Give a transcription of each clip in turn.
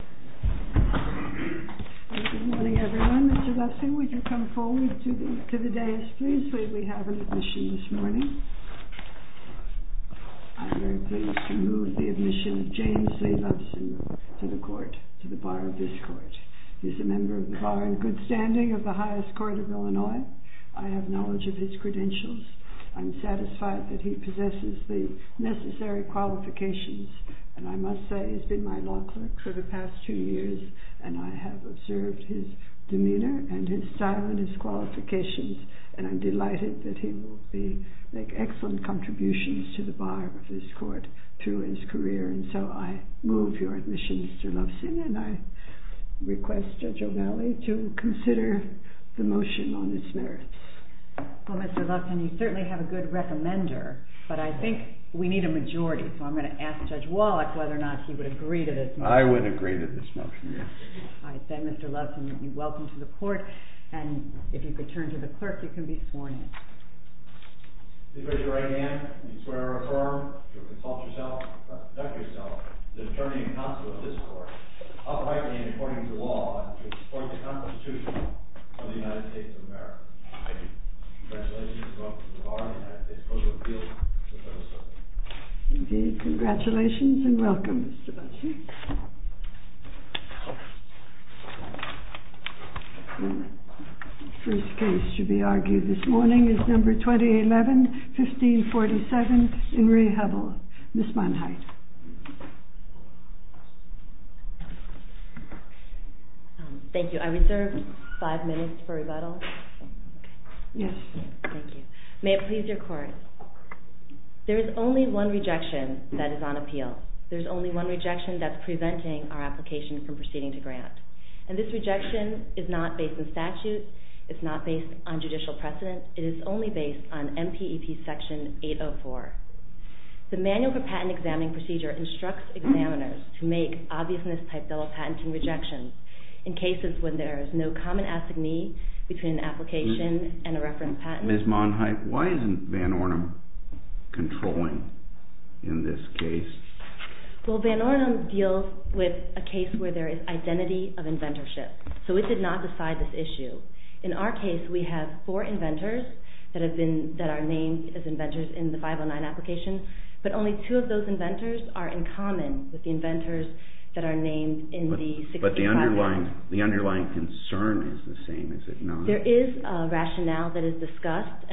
Good morning, everyone. Mr. Loveson, would you come forward to the dais, please? We have an admission this morning. I'm very pleased to move the admission of James Lee Loveson to the court, to the bar of this court. He's a member of the bar in good standing of the highest court of Illinois. I have knowledge of his credentials. I'm satisfied that he and I have observed his demeanor and his style and his qualifications, and I'm delighted that he will make excellent contributions to the bar of this court through his career. And so I move your admission, Mr. Loveson, and I request Judge O'Neilly to consider the JUDGE O'NEILLY Well, Mr. Loveson, you certainly have a good recommender, but I think we need a majority, so I'm going to ask Judge Wallach whether or not he would agree to this motion. JUDGE WALLACH I thank Mr. Loveson. You're welcome to the court, and if you could turn to the clerk, you can be sworn in. MR. LOVESON I take your right hand and swear to consult yourself, the attorney and counsel of this court, uprightly and according to law, to support the Constitution of the United States of America. I do. Congratulations. You're welcome to the bar, and I suppose we'll deal with the rest of it. JUDGE O'NEILLY Indeed, congratulations and welcome, Mr. Loveson. The first case to be argued this morning is number 2011-1547, Inree Hubbell. Ms. Monheit. INREE HUBBELL Thank you. I reserve five minutes for rebuttal. JUDGE O'NEILLY Yes. INREE HUBBELL Thank you. May it please your court, there is only one rejection that is on appeal. There is only one rejection that's preventing our application from proceeding to grant, and this rejection is not based on statute, it's not based on judicial precedent, it is only based on MPEP Section 804. The Manual for Patent Examining Procedure instructs examiners to make obviousness-type bill of patenting in cases when there is no common assignee between an application and a reference patent. JUDGE O'NEILLY Ms. Monheit, why isn't Van Ornum controlling in this case? INREE HUBBELL Well, Van Ornum deals with a case where there is identity of inventorship, so it did not decide this issue. In our case, we have four inventors that are named as inventors in the 509 application, but only two of those inventors are in common with the inventors that are named in the 601 application. JUDGE O'NEILLY But the underlying concern is the same, is it not? INREE HUBBELL There is a rationale that is discussed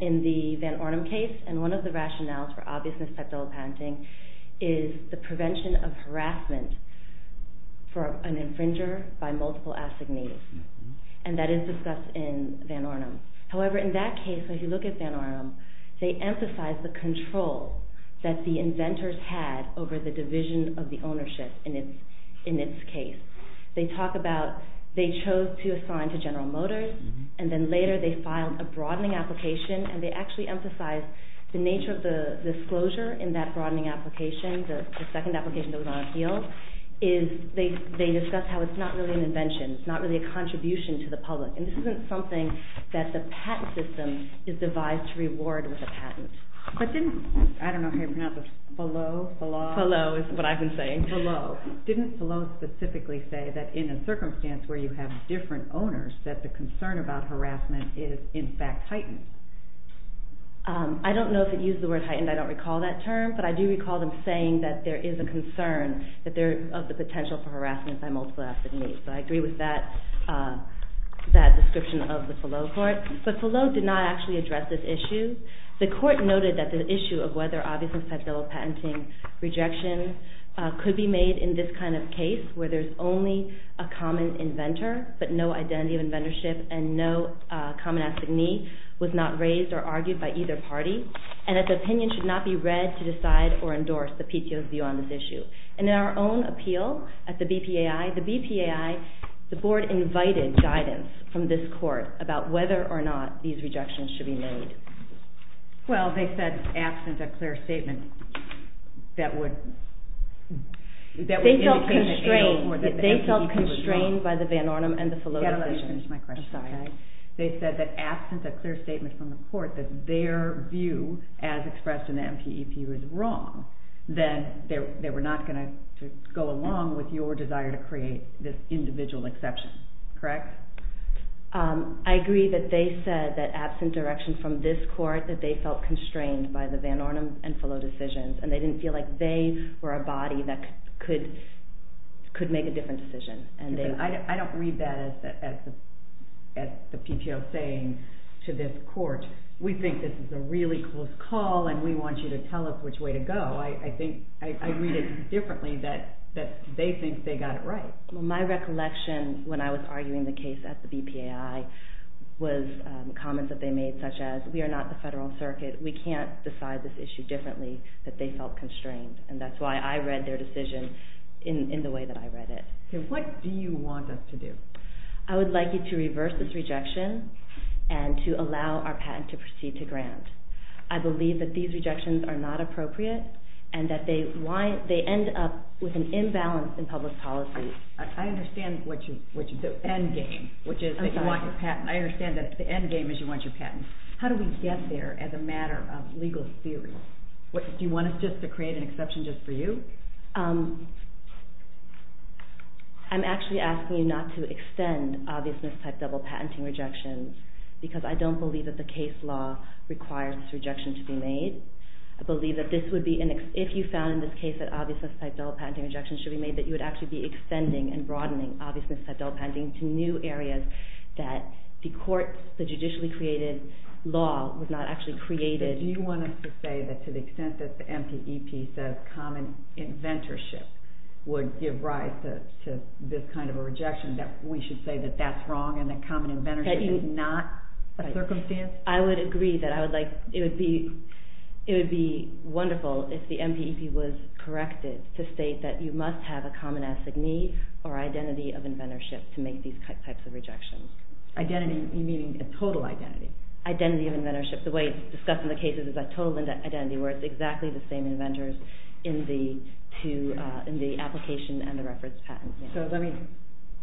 in the Van Ornum case, and one of the rationales for obviousness-type bill of patenting is the prevention of harassment for an infringer by multiple assignees, and that is discussed in Van Ornum. However, in that case, if you look at Van Ornum, they emphasize the control that the inventors had over the division of the ownership in its case. They talk about they chose to assign to General Motors, and then later they filed a broadening application, and they actually emphasize the nature of the disclosure in that broadening application, the second application that was on appeal, is they discuss how it's not really an invention, it's not really a contribution to the public, and this isn't something that the patent system is devised to reward with a patent. JUDGE O'NEILLY But didn't, I don't know how you pronounce this, Fallot? INREE HUBBELL Fallot is what I've been saying. JUDGE O'NEILLY Fallot. Didn't Fallot specifically say that in a circumstance where you have different owners, that the concern about harassment is in fact heightened? INREE HUBBELL I don't know if it used the word heightened, I don't recall that term, but I do recall them saying that there is a concern of the potential for harassment by multiple assignees, so I agree with that description of the Fallot report, but Fallot did not actually address this issue. The court noted that the issue of whether, obviously, federal patenting rejection could be made in this kind of case, where there's only a common inventor, but no identity of inventorship, and no common assignee was not raised or argued by either party, and that the opinion should not be read to decide or endorse the PTO's view on this issue. And in our own appeal at the BPAI, the BPAI, the board invited guidance from this court about whether or not these rejections should be made. Well, they said, absent a clear statement that would... They felt constrained by the Van Ornum and the Fallot... Yeah, let me finish my question. I'm sorry. They said that absent a clear statement from the court that their view, as expressed in the MPEPU, is wrong, then they were not going to go along with your desire to create this individual exception, correct? I agree that they said that absent direction from this court, that they felt constrained by the Van Ornum and Fallot decisions, and they didn't feel like they were a body that could make a different decision. I don't read that as the PTO saying to this court, we think this is a really close call and we want you to tell us which way to go. I read it differently, that they think they got it right. Well, my recollection when I was arguing the case at the BPAI was comments that they made such as, we are not the federal circuit, we can't decide this issue differently, that they felt constrained. And that's why I read their decision in the way that I read it. What do you want us to do? I would like you to reverse this rejection and to allow our patent to proceed to grant. I believe that these rejections are not appropriate and that they end up with an imbalance in I understand the end game, which is that you want your patent. I understand that the end game is you want your patent. How do we get there as a matter of legal theory? Do you want us to create an exception just for you? I'm actually asking you not to extend obvious mistype double patenting rejections because I don't believe that the case law requires this rejection to be made. I believe that if you found in this case that obvious mistype double patenting rejections should be made that you would actually be extending and broadening obvious mistype double patenting to new areas that the court, the judicially created law was not actually created. Do you want us to say that to the extent that the MPEP says common inventorship would give rise to this kind of a rejection that we should say that that's wrong and that common inventorship is not a circumstance? I would agree that I would like, it would be wonderful if the MPEP was corrected to state that you must have a common assignee or identity of inventorship to make these types of rejections. Identity meaning a total identity? Identity of inventorship. The way it's discussed in the cases is a total identity where it's exactly the same inventors in the application and the reference patent. So let me,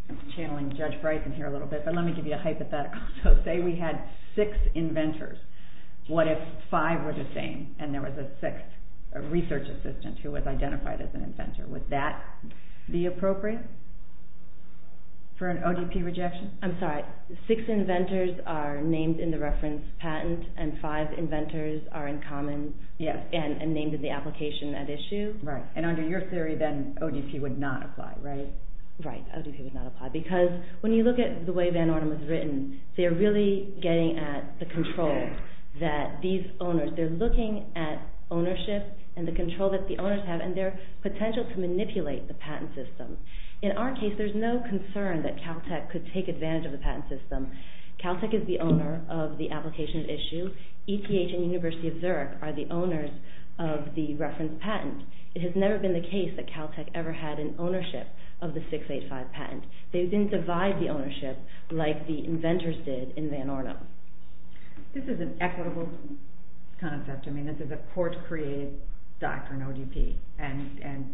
I'm channeling Judge Brighton here a little bit, but let me give you a hypothetical. So say we had six inventors. What if five were the same and there was a sixth research assistant who was identified as an inventor? Would that be appropriate for an ODP rejection? I'm sorry, six inventors are named in the reference patent and five inventors are in common and named in the application at issue? Right, and under your theory then ODP would not apply, right? Right, ODP would not apply because when you look at the way Van Orden was written, they are really getting at the control that these owners, they're looking at ownership and the potential to manipulate the patent system. In our case, there's no concern that Caltech could take advantage of the patent system. Caltech is the owner of the application at issue. ETH and University of Zurich are the owners of the reference patent. It has never been the case that Caltech ever had an ownership of the 685 patent. They didn't divide the ownership like the inventors did in Van Orden. This is an equitable concept. This is a court created doctrine ODP and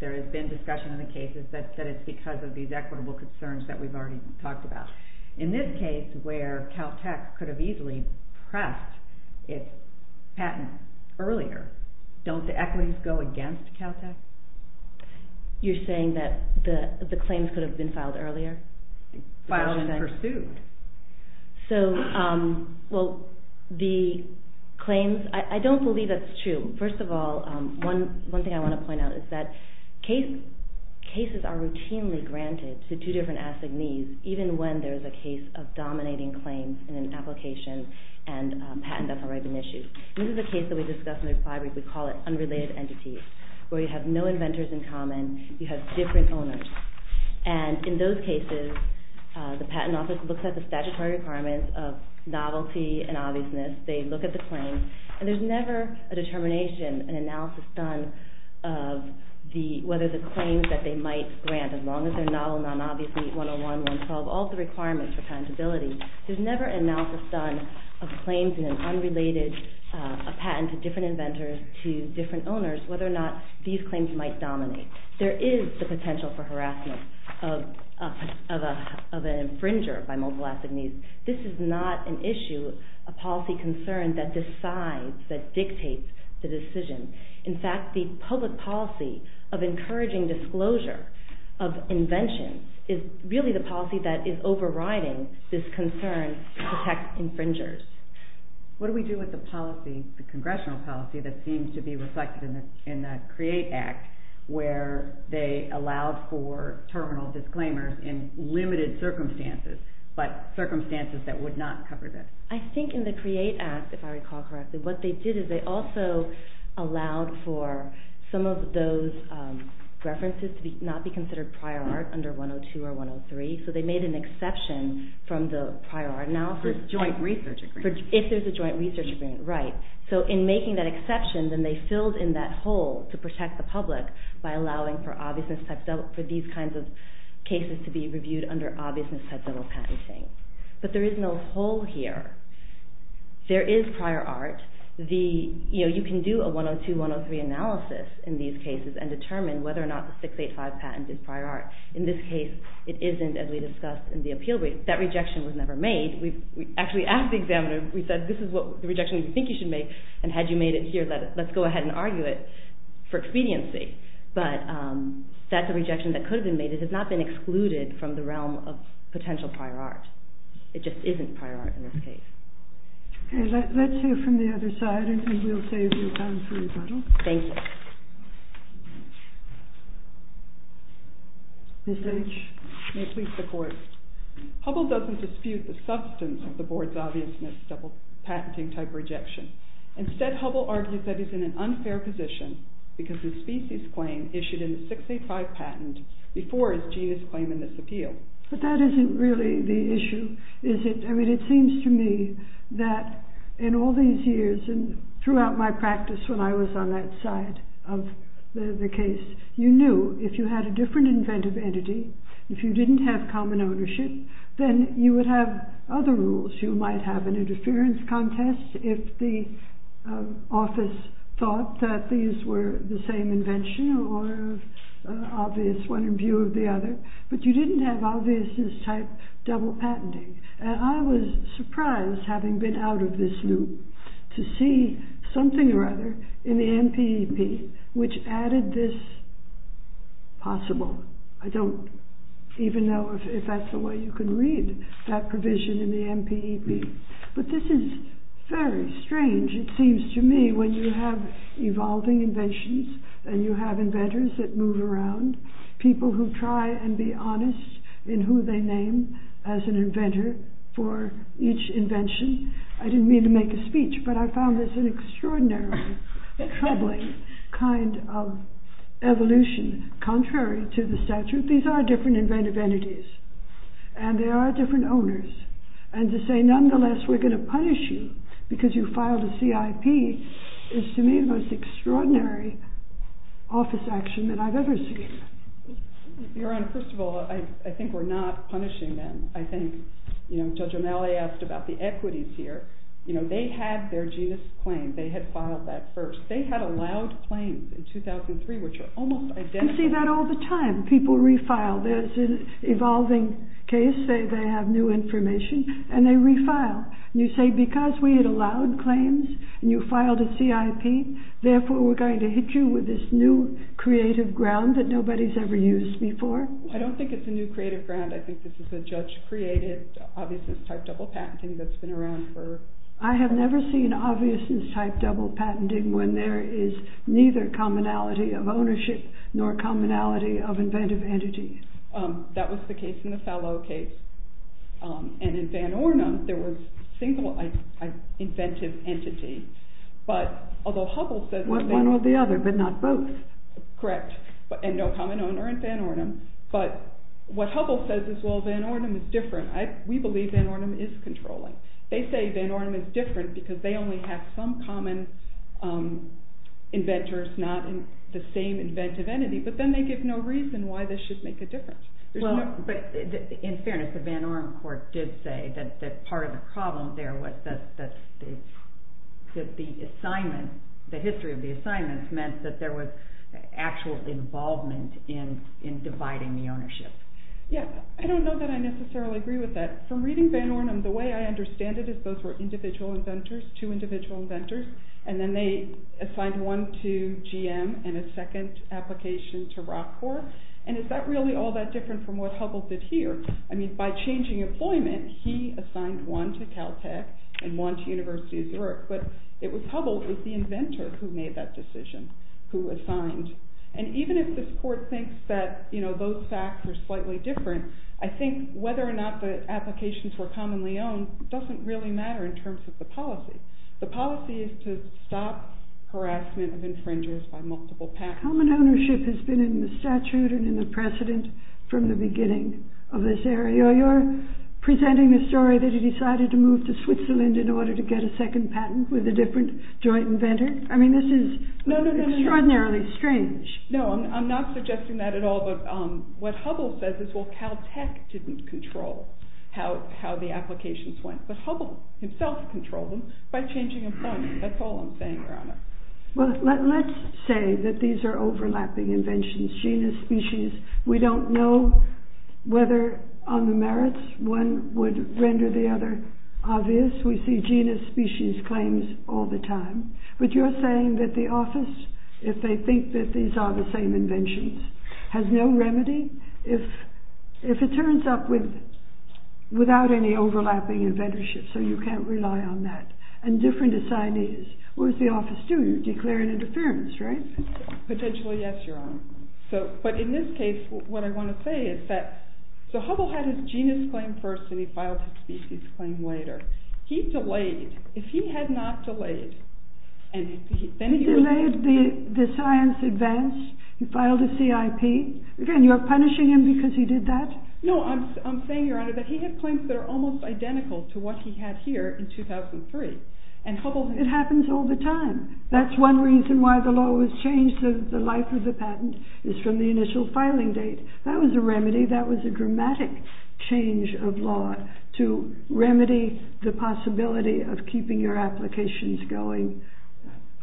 there has been discussion in the cases that it's because of these equitable concerns that we've already talked about. In this case where Caltech could have easily pressed its patent earlier, don't the equities go against Caltech? You're saying that the claims could have been filed earlier? Filed and pursued. I don't believe that's true. First of all, one thing I want to point out is that cases are routinely granted to two different assignees even when there's a case of dominating claims in an application and patent that's already been issued. This is a case that we discussed in the reply week. We call it unrelated entities where you have no inventors in common. You have different owners. In those cases, the patent office looks at the statutory requirements of novelty and obviousness. They look at the claims and there's never a determination, an analysis done of whether the claims that they might grant, as long as they're novel, non-obvious, meet 101, 112, all the requirements for patentability. There's never an analysis done of claims in an unrelated patent to different inventors to different owners whether or not these claims might dominate. There is the potential for harassment of an infringer by multiple assignees. This is not an issue, a policy concern that decides, that dictates the decision. In fact, the public policy of encouraging disclosure of invention is really the policy that is overriding this concern to protect infringers. What do we do with the policy, the congressional policy that seems to be reflected in the CREATE Act where they allowed for terminal disclaimers in limited circumstances, but circumstances that would not cover this? I think in the CREATE Act, if I recall correctly, what they did is they also allowed for some of those references to not be considered prior art under 102 or 103, so they made an exception from the prior art analysis. For joint research agreements. If there's a joint research agreement, right. So in making that exception, then they filled in that hole to protect the public by allowing for these kinds of cases to be reviewed under obviousness type double patenting. But there is no hole here. There is prior art. You can do a 102, 103 analysis in these cases and determine whether or not the 685 patent is prior art. In this case, it isn't as we discussed in the appeal brief. That rejection was never made. We actually asked the examiner, we said this is the rejection we think you should make and had you made it here, let's go ahead and argue it for expediency. But that's a rejection that could have been made. It has not been excluded from the realm of potential prior art. It just isn't prior art in this case. Okay, let's hear from the other side and we'll save you time for rebuttal. Thank you. Ms. H. May it please the court. Hubble doesn't dispute the substance of the board's obviousness double patenting type rejection. Instead, Hubble argues that he's in an unfair position because his species claim issued in the 685 patent before his genus claim in this appeal. But that isn't really the issue, is it? I mean, it seems to me that in all these years and throughout my practice when I was on that side of the case, you knew if you had a different inventive entity, if you didn't have common ownership, then you would have other rules. You might have an interference contest if the office thought that these were the same invention or obvious one in view of the other. But you didn't have obviousness type double patenting. And I was surprised having been out of this loop to see something or other in the NPEP which added this possible. I don't even know if that's the way you can read that provision in the NPEP. But this is very strange, it seems to me, when you have evolving inventions and you have inventors that move around, people who try and be honest in who they name as an inventor for each invention. I didn't mean to make a speech, but I found this an extraordinarily troubling kind of evolution. Contrary to the statute, these are different inventive entities and they are different owners. And to say nonetheless we're going to punish you because you filed a CIP is to me the most extraordinary office action that I've ever seen. Your Honor, first of all, I think we're not punishing them. I think Judge O'Malley asked about the equities here. They had their genus claim, they had filed that first. They had allowed claims in 2003 which are almost identical. I see that all the time. People refile. There's an evolving case. They have new information and they refile. And you say because we had allowed claims and you filed a CIP, therefore we're going to hit you with this new creative ground that nobody's ever used before? I don't think it's a new creative ground. I think this is a judge-created obviousness type double patenting that's been around for I have never seen obviousness type double patenting when there is neither commonality of ownership nor commonality of inventive entities. That was the case in the Fallot case. And in Van Ornum, there was single inventive entity. But although Hubble says... One or the other, but not both. Correct. And no common owner in Van Ornum. But what Hubble says is, well, Van Ornum is different. We believe Van Ornum is controlling. They say Van Ornum is different because they only have some common inventors, not the same inventive entity. But then they give no reason why this should make a difference. In fairness, the Van Ornum court did say that part of the problem there was that the history of the assignments meant that there was actual involvement in dividing the ownership. Yeah. I don't know that I necessarily agree with that. From reading Van Ornum, the way I understand it is those were individual inventors, two individual inventors, and then they assigned one to GM and a second application to Rock Corps. And is that really all that different from what Hubble did here? I mean, by changing employment, he assigned one to Caltech and one to University of Zurich. But it was Hubble, it was the inventor who made that decision, who assigned. And even if this court thinks that those facts are slightly different, I think whether or not the applications were commonly owned doesn't really matter in terms of the policy. The policy is to stop harassment of infringers by multiple patents. Common ownership has been in the statute and in the precedent from the beginning of this area. You're presenting a story that he decided to move to Switzerland in order to get a second patent with a different joint inventor. I mean, this is extraordinarily strange. No, I'm not suggesting that at all. But what Hubble says is, well, Caltech didn't control how the applications went. But Hubble himself controlled them by changing employment. That's all I'm saying, Your Honor. Well, let's say that these are overlapping inventions. Genus, species, we don't know whether on the merits one would render the other obvious. We see genus, species claims all the time. But you're saying that the office, if they think that these are the same inventions, has no remedy? If it turns up without any overlapping inventorship, so you can't rely on that. And different assignees. What does the office do? You declare an interference, right? Potentially, yes, Your Honor. But in this case, what I want to say is that, so Hubble had his genus claim first, and he filed his species claim later. He delayed. If he had not delayed, then he would have- He delayed the science advance. He filed a CIP. Again, you're punishing him because he did that? No, I'm saying, Your Honor, that he had claims that are almost identical to what he had here in 2003. And Hubble- It happens all the time. That's one reason why the law was changed. The life of the patent is from the initial filing date. That was a remedy. That was a dramatic change of law to remedy the possibility of keeping your applications going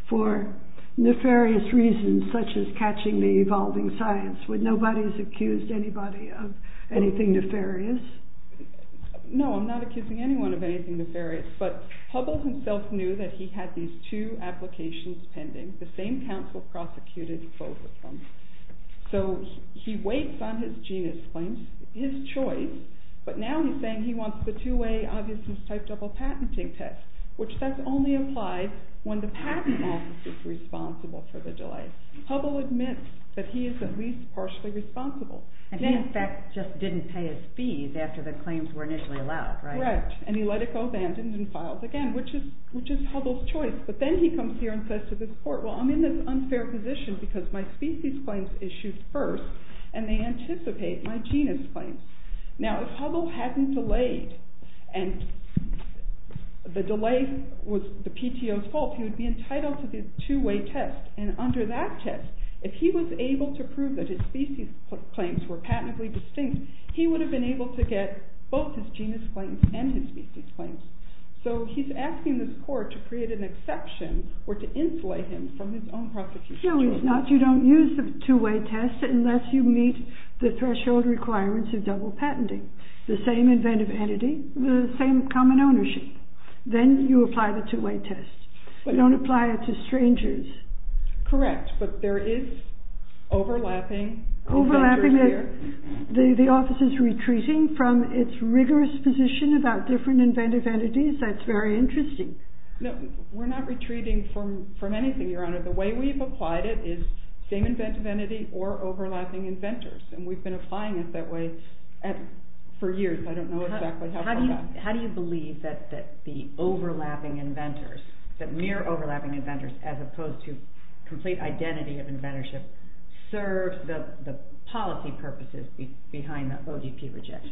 for nefarious reasons, such as catching the evolving science. Nobody's accused anybody of anything nefarious? No, I'm not accusing anyone of anything nefarious. But Hubble himself knew that he had these two applications pending. The same counsel prosecuted both of them. So he waits on his genus claims, his choice, but now he's saying he wants the two-way obviousness type double patenting test, which that's only applied when the patent office is responsible for the delay. Hubble admits that he is at least partially responsible. And he, in fact, just didn't pay his fees after the claims were initially allowed, right? Correct. And he let it go, abandoned, and filed again, which is Hubble's choice. But then he comes here and says to this court, well, I'm in this unfair position because my species claims issued first, and they anticipate my genus claims. Now, if Hubble hadn't delayed, and the delay was the PTO's fault, he would be entitled to this two-way test. And under that test, if he was able to prove that his species claims were patently distinct, he would have been able to get both his genus claims and his species claims. So he's asking this court to create an exception or to insulate him from his own prosecution. No, he's not. But you don't use the two-way test unless you meet the threshold requirements of double patenting. The same inventive entity, the same common ownership. Then you apply the two-way test. You don't apply it to strangers. Correct. But there is overlapping inventors here. Overlapping. The office is retreating from its rigorous position about different inventive entities. That's very interesting. No, we're not retreating from anything, Your Honor. The way we've applied it is same inventive entity or overlapping inventors. And we've been applying it that way for years. I don't know exactly how far back. How do you believe that the overlapping inventors, that mere overlapping inventors as opposed to complete identity of inventorship, serves the policy purposes behind the OGP rejection?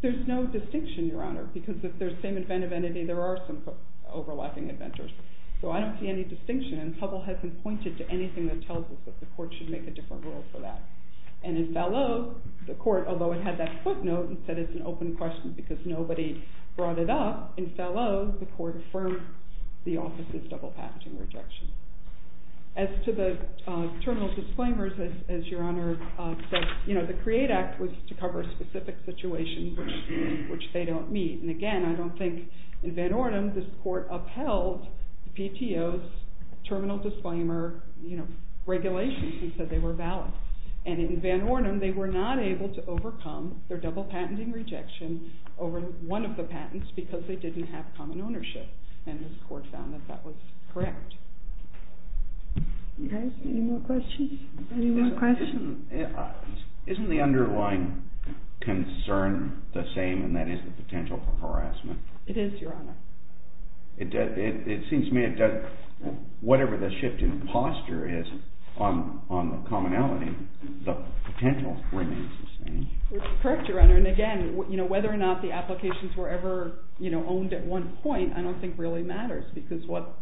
There's no distinction, Your Honor, because if there's same inventive entity, there are same overlapping inventors. So I don't see any distinction. And Hubble hasn't pointed to anything that tells us that the court should make a different rule for that. And in Fallot, the court, although it had that footnote and said it's an open question because nobody brought it up, in Fallot, the court affirmed the office's double patenting rejection. As to the terminal disclaimers, as Your Honor said, you know, the CREATE Act was to cover specific situations which they don't meet. And again, I don't think, in Van Ornum, this court upheld PTO's terminal disclaimer, you know, regulations and said they were valid. And in Van Ornum, they were not able to overcome their double patenting rejection over one of the patents because they didn't have common ownership. And this court found that that was correct. Okay. Any more questions? Any more questions? Isn't the underlying concern the same, and that is the potential for harassment? It is, Your Honor. It seems to me it does, whatever the shift in posture is on the commonality, the potential remains the same. Correct, Your Honor. And again, you know, whether or not the applications were ever, you know, owned at one point, I don't think really matters because what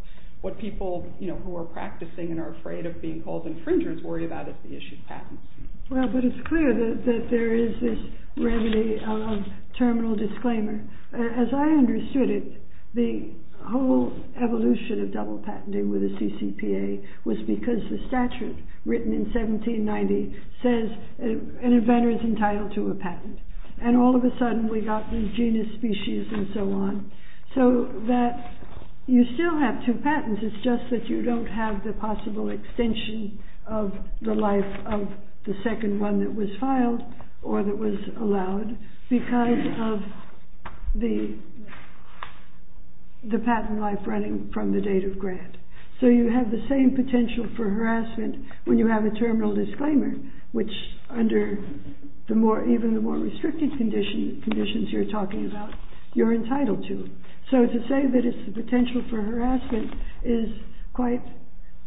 people, you know, who are practicing and are afraid of being called infringers worry about is the issue of patents. Well, but it's clear that there is this remedy of terminal disclaimer. As I understood it, the whole evolution of double patenting with the CCPA was because the statute written in 1790 says an inventor is entitled to a patent. And all of a sudden, we got the genus, species, and so on. So that you still have two patents, it's just that you don't have the possible extension of the life of the second one that was filed or that was allowed because of the patent life running from the date of grant. So you have the same potential for harassment when you have a terminal disclaimer, which under even the more restricted conditions you're talking about, you're entitled to. So to say that it's the potential for harassment is quite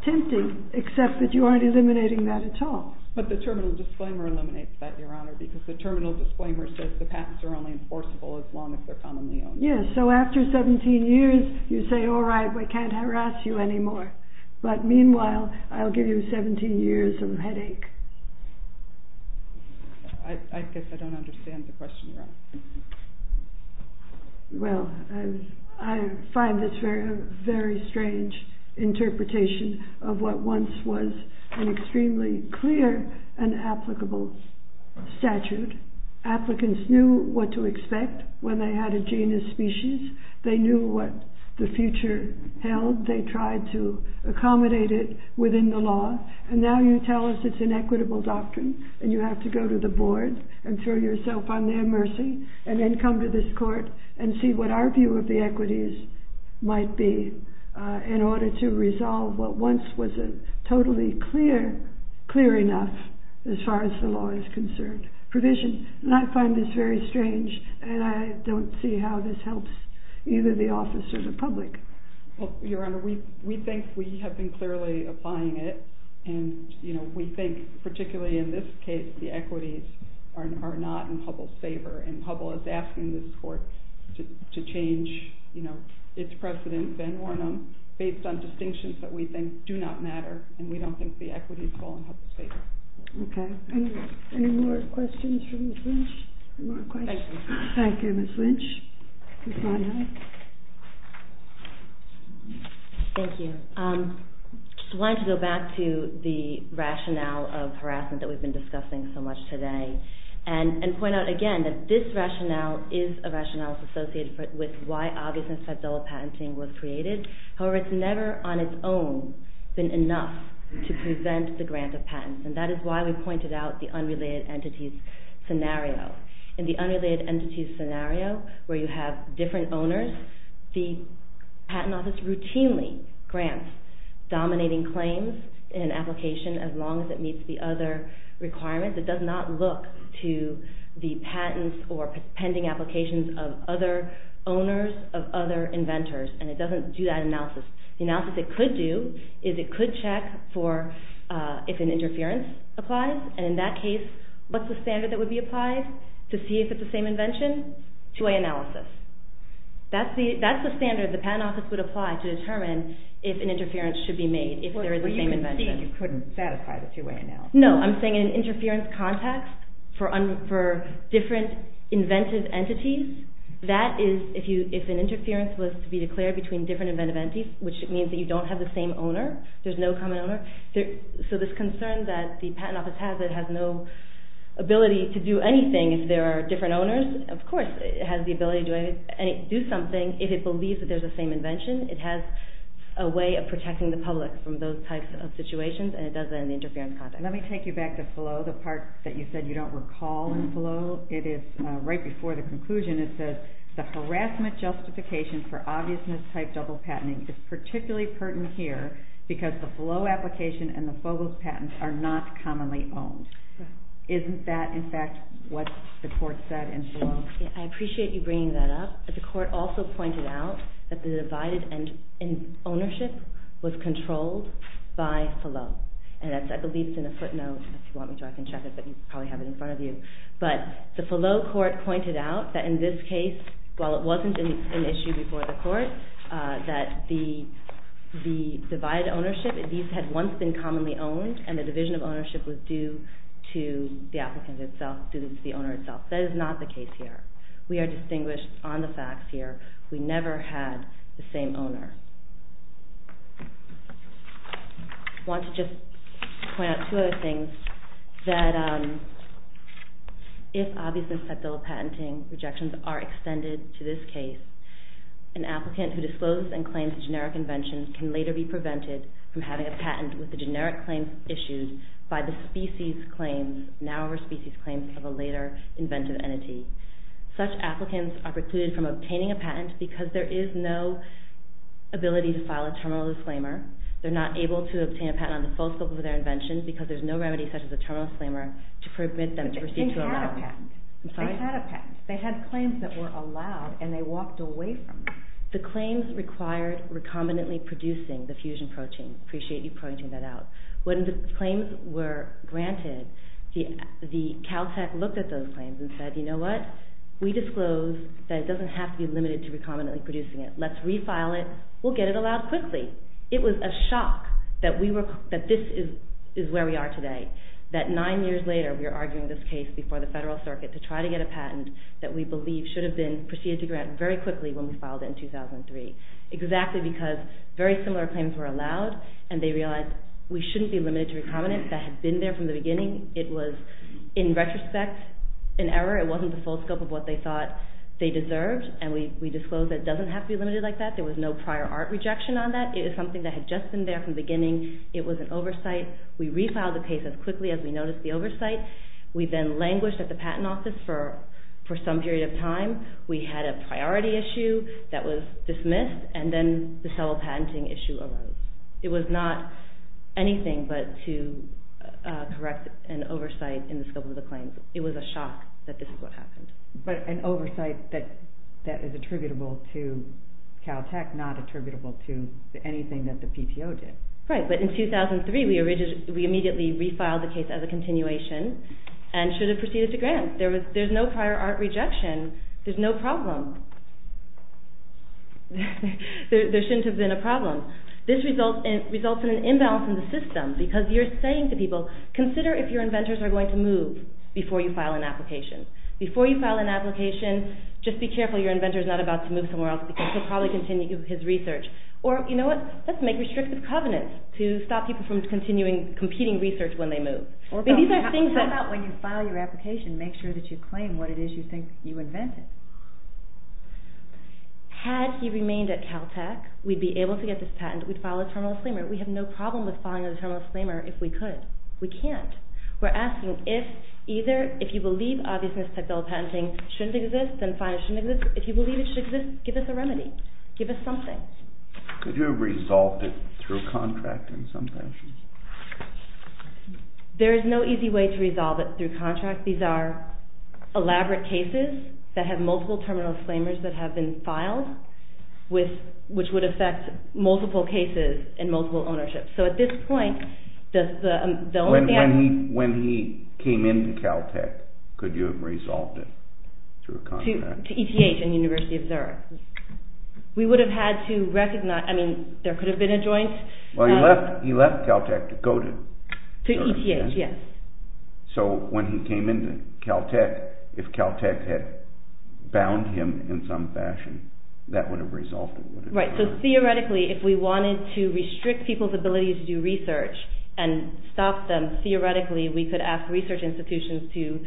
tempting, except that you aren't eliminating that at all. But the terminal disclaimer eliminates that, Your Honor, because the terminal disclaimer says the patents are only enforceable as long as they're commonly owned. Yes. So after 17 years, you say, all right, we can't harass you anymore. But meanwhile, I'll give you 17 years of headache. I guess I don't understand the question, Your Honor. Well, I find this very strange interpretation of what once was an extremely clear and applicable statute. Applicants knew what to expect when they had a genus, species. They knew what the future held. They tried to accommodate it within the law. And now you tell us it's an equitable doctrine, and you have to go to the board and throw yourself on their mercy and then come to this court and see what our view of the equities might be in order to resolve what once was a totally clear, clear enough as far as the law is concerned provision. And I find this very strange, and I don't see how this helps either the office or the public. Well, Your Honor, we think we have been clearly applying it. And we think, particularly in this case, the equities are not in Hubble's favor. And Hubble is asking this court to change its precedent, Ben Warnham, based on distinctions that we think do not matter. And we don't think the equities fall in Hubble's favor. OK. Any more questions for Ms. Lynch? Any more questions? Thank you. Thank you, Ms. Lynch. Ms. Monaghan? Thank you. I just wanted to go back to the rationale of harassment that we've been discussing so much today and point out, again, that this rationale is a rationale associated with why obvious incite double patenting was created. However, it's never, on its own, been enough to prevent the grant of patents. And that is why we pointed out the unrelated entities scenario. In the unrelated entities scenario, where you have different owners, the patent office routinely grants dominating claims in an application as long as it meets the other requirements. It does not look to the patents or pending applications of other owners of other inventors. And it doesn't do that analysis. The analysis it could do is it could check for if an interference applies. And in that case, what's the standard that would be applied to see if it's the same invention? Two-way analysis. That's the standard the patent office would apply to determine if an interference should be made, if there is the same invention. But you can see you couldn't satisfy the two-way analysis. No. I'm saying in an interference context for different inventive entities, that is, if an interference was to be declared between different inventive entities, which means that you don't have the same owner, there's no common owner. So this concern that the patent office has that it has no ability to do anything if there are different owners, of course, it has the ability to do something if it believes that there's the same invention. It has a way of protecting the public from those types of situations, and it does that in the interference context. Let me take you back to FLO, the part that you said you don't recall in FLO. It is right before the conclusion. It says the harassment justification for obvious mistype double patenting is particularly pertinent here because the FLO application and the FOBOS patent are not commonly owned. Isn't that, in fact, what the court said in FLO? I appreciate you bringing that up, but the court also pointed out that the divided ownership was controlled by FLO, and that's, I believe, in a footnote. If you want me to, I can check it, but you probably have it in front of you. But the FLO court pointed out that in this case, while it wasn't an issue before the divided ownership, these had once been commonly owned, and the division of ownership was due to the applicant itself, due to the owner itself. That is not the case here. We are distinguished on the facts here. We never had the same owner. I want to just point out two other things, that if obvious mistype double patenting rejections are extended to this case, an applicant who discloses and claims a generic invention can later be prevented from having a patent with the generic claims issued by the species claims, now over species claims, of a later inventive entity. Such applicants are precluded from obtaining a patent because there is no ability to file a terminal disclaimer. They're not able to obtain a patent on the full scope of their invention because there's no remedy such as a terminal disclaimer to permit them to proceed to allow. But they had a patent. I'm sorry? They had a patent. They had claims that were allowed, and they walked away from them. The claims required recombinantly producing the fusion protein. I appreciate you pointing that out. When the claims were granted, the Caltech looked at those claims and said, you know what, we disclose that it doesn't have to be limited to recombinantly producing it. Let's refile it. We'll get it allowed quickly. It was a shock that this is where we are today, that nine years later we are arguing this case before the Federal Circuit to try to get a patent that we believe should have been proceeded to grant very quickly when we filed it in 2003, exactly because very similar claims were allowed, and they realized we shouldn't be limited to recombinant that had been there from the beginning. It was, in retrospect, an error. It wasn't the full scope of what they thought they deserved, and we disclosed that it doesn't have to be limited like that. There was no prior art rejection on that. It was something that had just been there from the beginning. It was an oversight. We refiled the case as quickly as we noticed the oversight. We then languished at the patent office for some period of time. We had a priority issue that was dismissed, and then the civil patenting issue arose. It was not anything but to correct an oversight in the scope of the claims. It was a shock that this is what happened. But an oversight that is attributable to Caltech, not attributable to anything that the PTO did. Right, but in 2003, we immediately refiled the case as a continuation and should have proceeded to grant. There's no prior art rejection. There's no problem. There shouldn't have been a problem. This results in an imbalance in the system because you're saying to people, consider if your inventors are going to move before you file an application. Before you file an application, just be careful your inventor's not about to move somewhere else because he'll probably continue his research. Or, you know what, let's make restrictive covenants to stop people from continuing competing research when they move. How about when you file your application, make sure that you claim what it is you think you invented? Had he remained at Caltech, we'd be able to get this patent. We'd file a terminal disclaimer. We have no problem with filing a terminal disclaimer if we could. We can't. We're asking if you believe obviousness-type bill of patenting shouldn't exist, then fine it shouldn't exist. If you believe it should exist, give us a remedy. Give us something. Could you have resolved it through a contract in some fashion? There is no easy way to resolve it through contract. These are elaborate cases that have multiple terminal disclaimers that have been filed which would affect multiple cases and multiple ownerships. So at this point, does the bill of patent... When he came into Caltech, could you have resolved it through a contract? To ETH and University of Zurich. We would have had to recognize, I mean, there could have been a joint... Well, he left Caltech to go to... To ETH, yes. So when he came into Caltech, if Caltech had bound him in some fashion, that would have resolved it, wouldn't it? Right. So theoretically, if we wanted to restrict people's ability to do research and stop them, theoretically we could ask research institutions to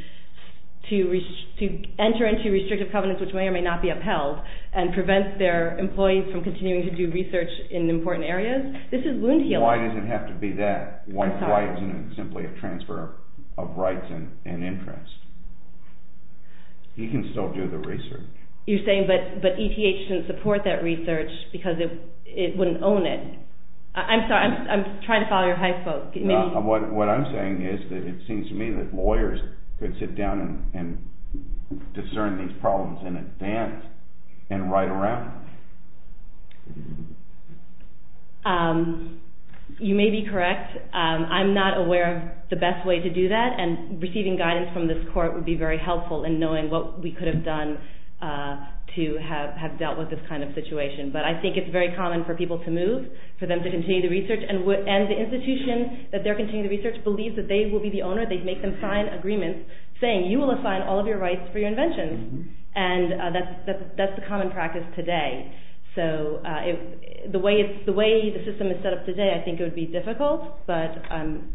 enter into restrictive covenants which may or may not be upheld and prevent their employees from continuing to do research in important areas. This is wound healing. Why does it have to be that? I'm sorry. Why isn't it simply a transfer of rights and interests? He can still do the research. You're saying, but ETH shouldn't support that research because it wouldn't own it. I'm sorry, I'm trying to follow your hypo. What I'm saying is that it seems to me that lawyers could sit down and discern these problems in advance and write around them. You may be correct. I'm not aware of the best way to do that. And receiving guidance from this court would be very helpful in knowing what we could have done to have dealt with this kind of situation. But I think it's very common for people to move, for them to continue the research, and the institution that they're continuing the research believes that they will be the owner. They make them sign agreements saying, you will assign all of your rights for your inventions. And that's the common practice today. So the way the system is set up today, I think it would be difficult, but I'm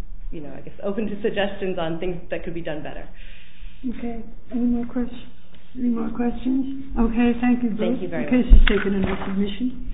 open to suggestions on things that could be done better. Okay, any more questions? Okay, thank you both. Casey's taken another submission.